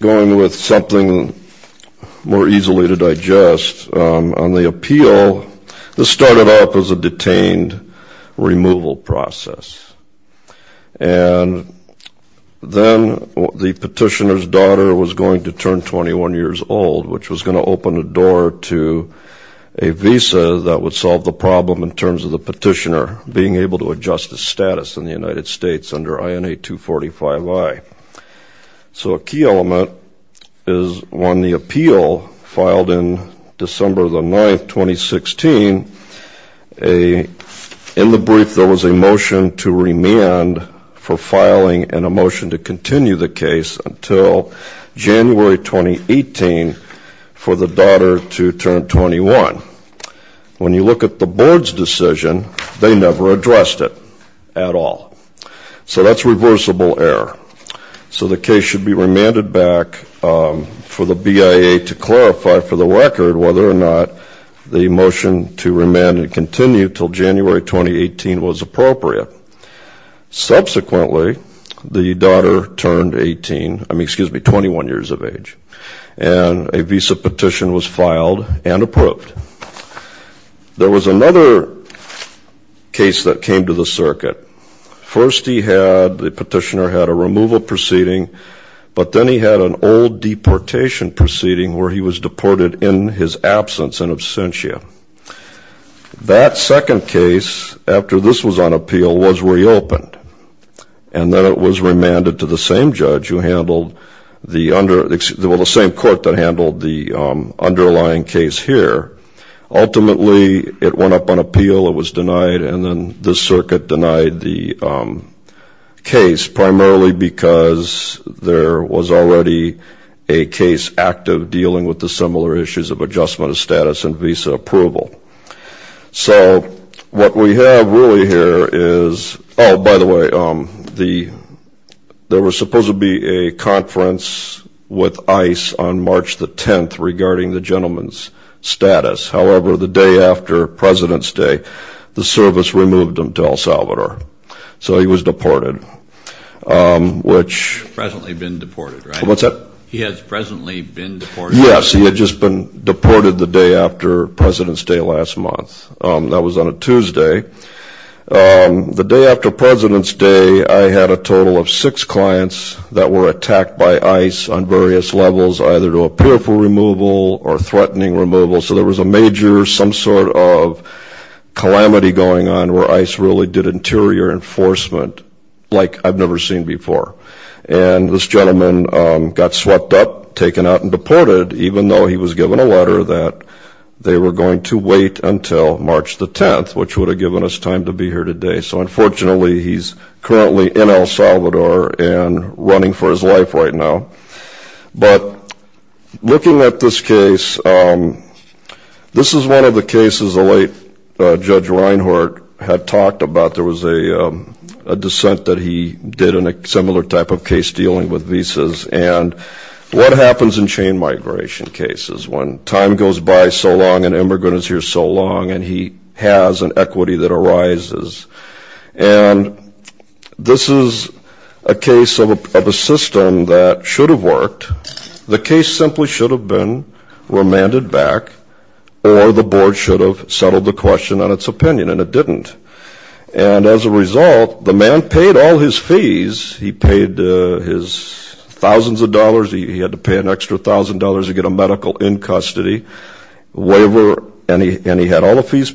Going with something more easily to digest, on the appeal, this started off as a detained removal process, and then the petitioner's daughter was going to turn 21 years old, which was going to open a door to a visa that would solve the problem in terms of the petitioner being able to adjust his status in the United States under INA 245I. So a key element is when the appeal filed in December the 9th, 2016, in the brief there was a motion to remand for filing and a motion to continue the case until January 2018 for the daughter to turn 21. When you look at the board's decision, they never addressed it at all. So that's reversible error. So the case should be remanded back for the BIA to clarify for the record whether or not the motion to remand and continue until January 2018 was appropriate. Subsequently, the daughter turned 18, I mean, excuse me, 21 years of age, and a visa petition was filed and approved. There was another case that came to the circuit. First, the petitioner had a removal proceeding, but then he had an old deportation proceeding where he was deported in his absence, in absentia. That second case, after this was on appeal, was reopened. And then it was remanded to the same judge who handled the under, well, the same court that handled the underlying case here. Ultimately, it went up on appeal, it was denied, and then the circuit denied the case primarily because there was already a case active dealing with the similar issues of adjustment of status and visa approval. So what we have really here is, oh, by the way, there was supposed to be a conference with ICE on March the 10th regarding the gentleman's status. However, the day after President's Day, the service removed him to El Salvador. So he was deported, which- Presently been deported, right? What's that? He has presently been deported. Yes, he had just been deported the day after President's Day last month. That was on a Tuesday. The day after President's Day, I had a total of six clients that were attacked by ICE on various levels, either to appear for removal or threatening removal. So there was a major, some sort of calamity going on where ICE really did interior enforcement like I've never seen before. And this gentleman got swept up, taken out, and deported, even though he was given a letter that they were going to wait until March the 10th, which would have given us time to be here today. So unfortunately, he's currently in El Salvador and running for his life right now. But looking at this case, this is one of the cases the late Judge Reinhart had talked about. There was a dissent that he did in a similar type of case dealing with visas. And what happens in chain migration cases when time goes by so long, an immigrant is here so long, and he has an equity that arises? And this is a case of a system that should have worked. The case simply should have been remanded back, or the board should have settled the question on its opinion, and it didn't. And as a result, the man paid all his fees. He paid his thousands of dollars. He had to pay an extra thousand dollars to get a medical in custody waiver, and he had all the fees.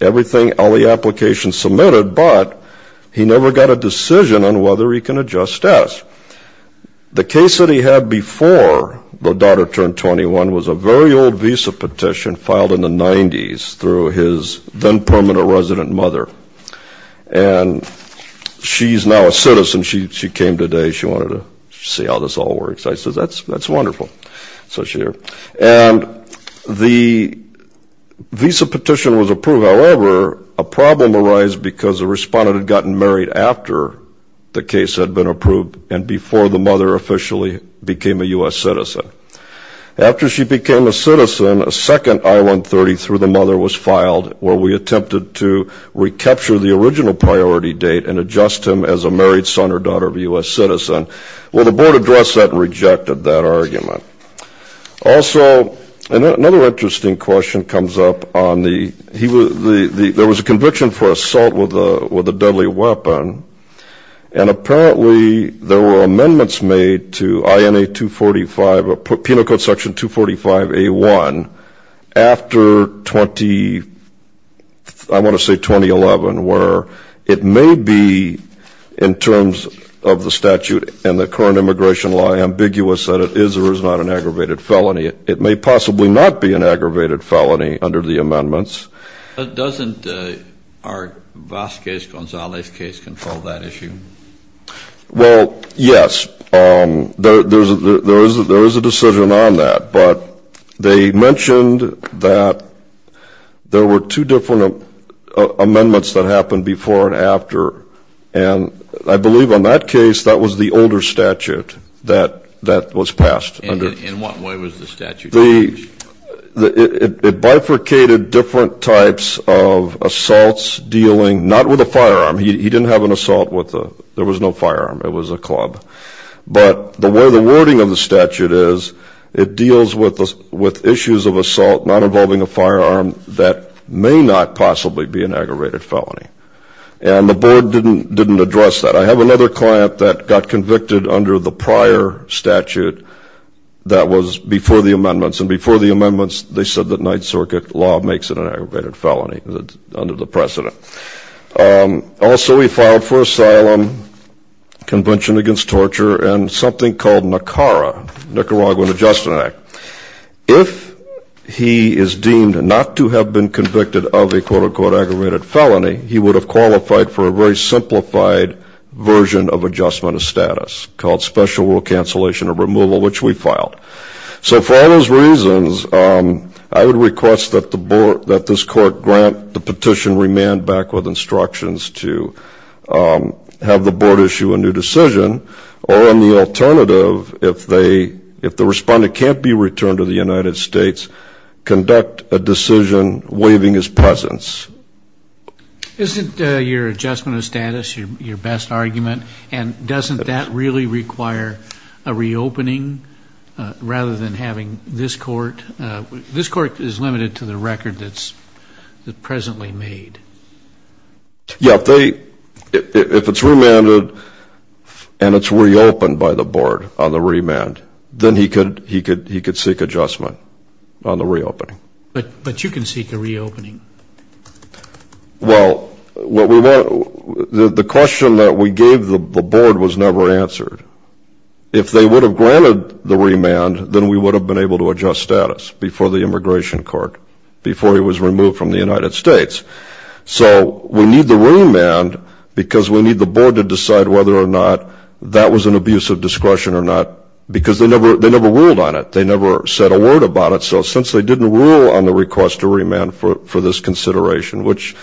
Everything, all the applications submitted, but he never got a decision on whether he can adjust status. The case that he had before the daughter turned 21 was a very old visa petition filed in the 90s through his then-permanent resident mother. And she's now a citizen. She came today. She wanted to see how this all works. I said, that's wonderful. So she's here. And the visa petition was approved. However, a problem arised because the respondent had gotten married after the case had been approved and before the mother officially became a U.S. citizen. After she became a citizen, a second I-130 through the mother was filed where we attempted to recapture the original priority date and adjust him as a married son or daughter of a U.S. citizen. Well, the board addressed that and rejected that argument. Also, another interesting question comes up on the, there was a conviction for assault with a deadly weapon, and apparently there were amendments made to INA 245, Penal Code Section 245A1, after 20, I want to say 2011, where it may be, in terms of the statute and the current immigration law, ambiguous that it is or is not an aggravated felony. It may possibly not be an aggravated felony under the amendments. But doesn't our Vazquez-Gonzalez case control that issue? Well, yes. There is a decision on that. But they mentioned that there were two different amendments that happened before and after. And I believe on that case, that was the older statute that was passed. In what way was the statute changed? It bifurcated different types of assaults dealing, not with a firearm. He didn't have an assault with a, there was no firearm. It was a club. But the way the wording of the statute is, it deals with issues of assault not involving a firearm that may not possibly be an aggravated felony. And the board didn't address that. I have another client that got convicted under the prior statute that was before the amendments. And before the amendments, they said that Ninth Circuit law makes it an aggravated felony under the precedent. Also, we filed for asylum, convention against torture, and something called NACARA, Nicaraguan Adjustment Act. If he is deemed not to have been convicted of a quote unquote aggravated felony, he would have qualified for a very simplified version of adjustment of status called special rule cancellation or removal, which we filed. So for all those reasons, I would request that this court grant the petition remand back with instructions to have the board issue a new decision. Or on the alternative, if the respondent can't be returned to the United States, conduct a decision waiving his presence. Isn't your adjustment of status your best argument? And doesn't that really require a reopening rather than having this court? This court is limited to the record that's presently made. Yeah, if it's remanded and it's reopened by the board on the remand, then he could seek adjustment on the reopening. But you can seek a reopening. Well, the question that we gave the board was never answered. If they would have granted the remand, then we would have been able to adjust status before the immigration court, before he was removed from the United States. So we need the remand because we need the board to decide whether or not that was an abuse of discretion or not. Because they never ruled on it. They never said a word about it. So since they didn't rule on the request to remand for this consideration, which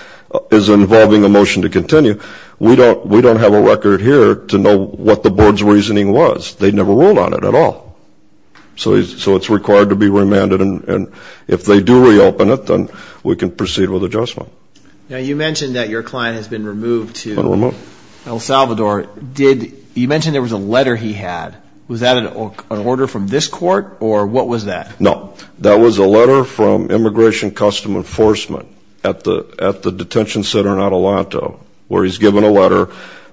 is involving a motion to continue, we don't have a record here to know what the board's reasoning was. They never ruled on it at all. So it's required to be remanded, and if they do reopen it, then we can proceed with adjustment. Now, you mentioned that your client has been removed to El Salvador. You mentioned there was a letter he had. Was that an order from this court, or what was that? No, that was a letter from Immigration Custom Enforcement at the detention center in Atalanta, where he's given a letter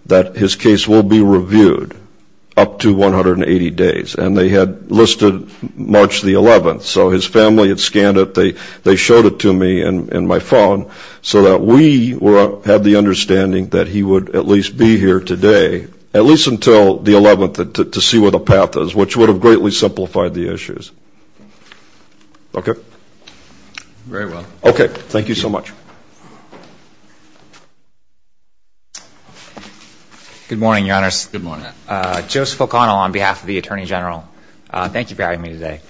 that his case will be reviewed up to 180 days. And they had listed March the 11th, so his family had scanned it. They showed it to me in my phone so that we had the understanding that he would at least be here today, at least until the 11th, to see where the path is, which would have greatly simplified the issues. Okay. Very well. Okay, thank you so much. Good morning, Your Honors. Good morning. Joseph O'Connell on behalf of the Attorney General. Thank you for having me today.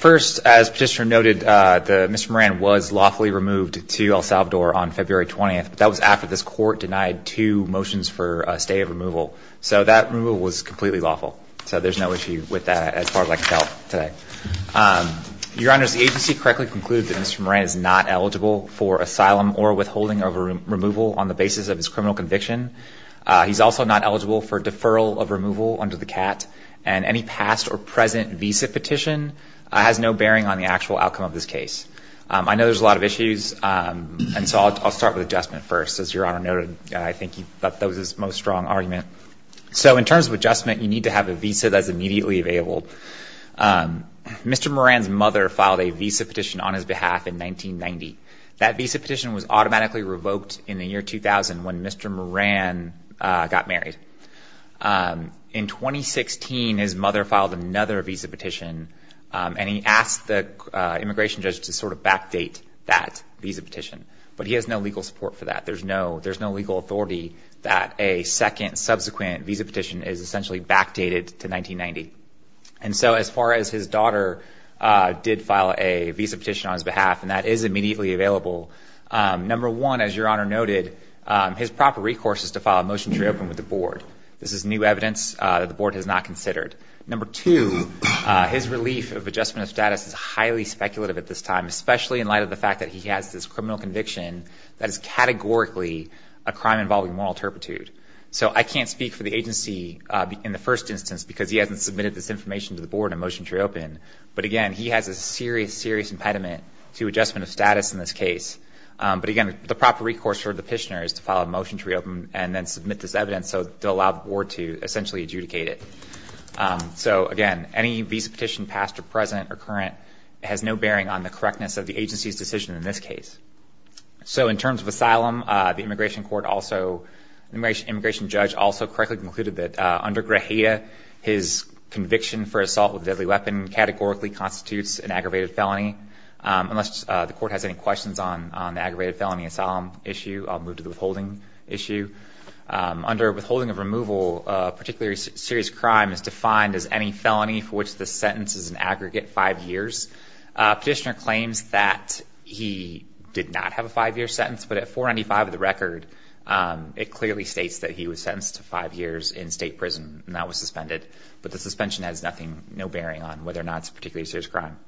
First, as Petitioner noted, Mr. Moran was lawfully removed to El Salvador on February 20th. That was after this court denied two motions for a stay of removal. So that removal was completely lawful. So there's no issue with that as far as I can tell today. Your Honors, the agency correctly concluded that Mr. Moran is not eligible for asylum or withholding of removal on the basis of his criminal conviction. He's also not eligible for deferral of removal under the CAT. And any past or present visa petition has no bearing on the actual outcome of this case. I know there's a lot of issues, and so I'll start with adjustment first. As Your Honor noted, I think that was his most strong argument. So in terms of adjustment, you need to have a visa that's immediately available. Mr. Moran's mother filed a visa petition on his behalf in 1990. That visa petition was automatically revoked in the year 2000 when Mr. Moran got married. In 2016, his mother filed another visa petition, and he asked the immigration judge to sort of backdate that visa petition. But he has no legal support for that. There's no legal authority that a second, subsequent visa petition is essentially backdated to 1990. And so as far as his daughter did file a visa petition on his behalf, and that is immediately available, number one, as Your Honor noted, his proper recourse is to file a motion to reopen with the board. This is new evidence that the board has not considered. Number two, his relief of adjustment of status is highly speculative at this time, especially in light of the fact that he has this criminal conviction that is categorically a crime involving moral turpitude. So I can't speak for the agency in the first instance because he hasn't submitted this information to the board in a motion to reopen. But again, he has a serious, serious impediment to adjustment of status in this case. But again, the proper recourse for the petitioner is to file a motion to reopen and then submit this evidence so they'll allow the board to essentially adjudicate it. So again, any visa petition past or present or current has no bearing on the correctness of the agency's decision in this case. So in terms of asylum, the immigration court also, immigration judge also correctly concluded that under Grahia, his conviction for assault with a deadly weapon categorically constitutes an aggravated felony, unless the court has any questions on the aggravated felony asylum issue, I'll move to the withholding issue. Under withholding of removal, a particularly serious crime is defined as any felony for which the sentence is an aggregate five years. Petitioner claims that he did not have a five year sentence, but at 495 of the record, it clearly states that he was sentenced to five years in state prison and that was suspended. But the suspension has nothing, no bearing on whether or not it's a particularly serious crime.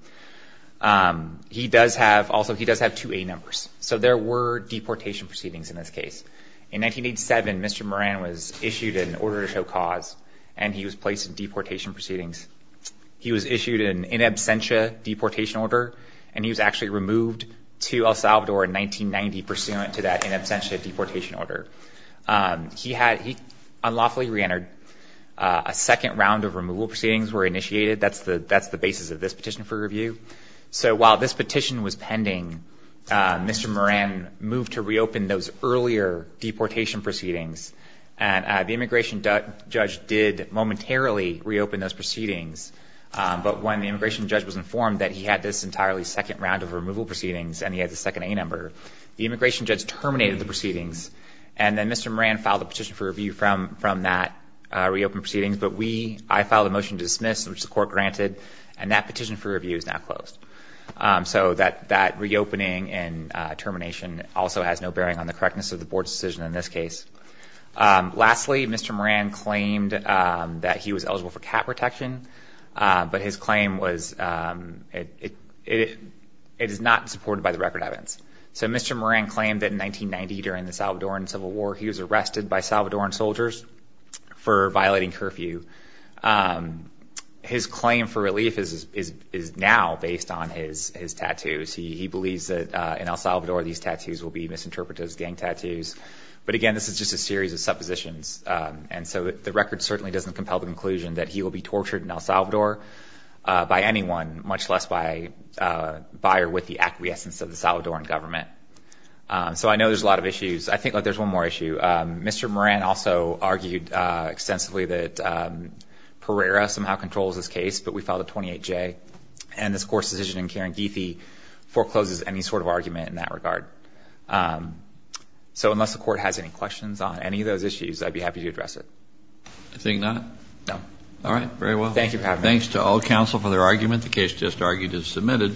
He does have, also he does have two A numbers. So there were deportation proceedings in this case. In 1987, Mr. Moran was issued an order to show cause and he was placed in deportation proceedings. He was issued an in absentia deportation order, and he was actually removed to El Salvador in 1990 pursuant to that in absentia deportation order. He had, he unlawfully re-entered. A second round of removal proceedings were initiated. That's the, that's the basis of this petition for review. So while this petition was pending, Mr. Moran moved to reopen those earlier deportation proceedings. And the immigration judge did momentarily reopen those proceedings. But when the immigration judge was informed that he had this entirely second round of removal proceedings and he had the second A number, the immigration judge terminated the proceedings. And then Mr. Moran filed a petition for review from, from that reopen proceedings. But we, I filed a motion to dismiss, which the court granted. And that petition for review is now closed. So that, that reopening and termination also has no bearing on the correctness of the board's decision in this case. Lastly, Mr. Moran claimed that he was eligible for cat protection but his claim was it, it, it is not supported by the record evidence. So Mr. Moran claimed that in 1990 during the Salvadoran Civil War, he was arrested by Salvadoran soldiers for violating curfew. His claim for relief is, is, is now based on his, his tattoos. He, he believes that in El Salvador these tattoos will be misinterpreted as gang tattoos, but again, this is just a series of suppositions. And so the record certainly doesn't compel the conclusion that he will be tortured in El Salvador by anyone, much less by a buyer with the acquiescence of the Salvadoran government. So I know there's a lot of issues. I think that there's one more issue. Mr. Moran also argued extensively that Pereira somehow controls this case, but we filed a 28-J, and this court's decision in Caranguife forecloses any sort of argument in that regard. So unless the court has any questions on any of those issues, I'd be happy to address it. I think not. No. All right, very well. Thank you for having me. Thanks to all counsel for their argument. The case just argued is submitted.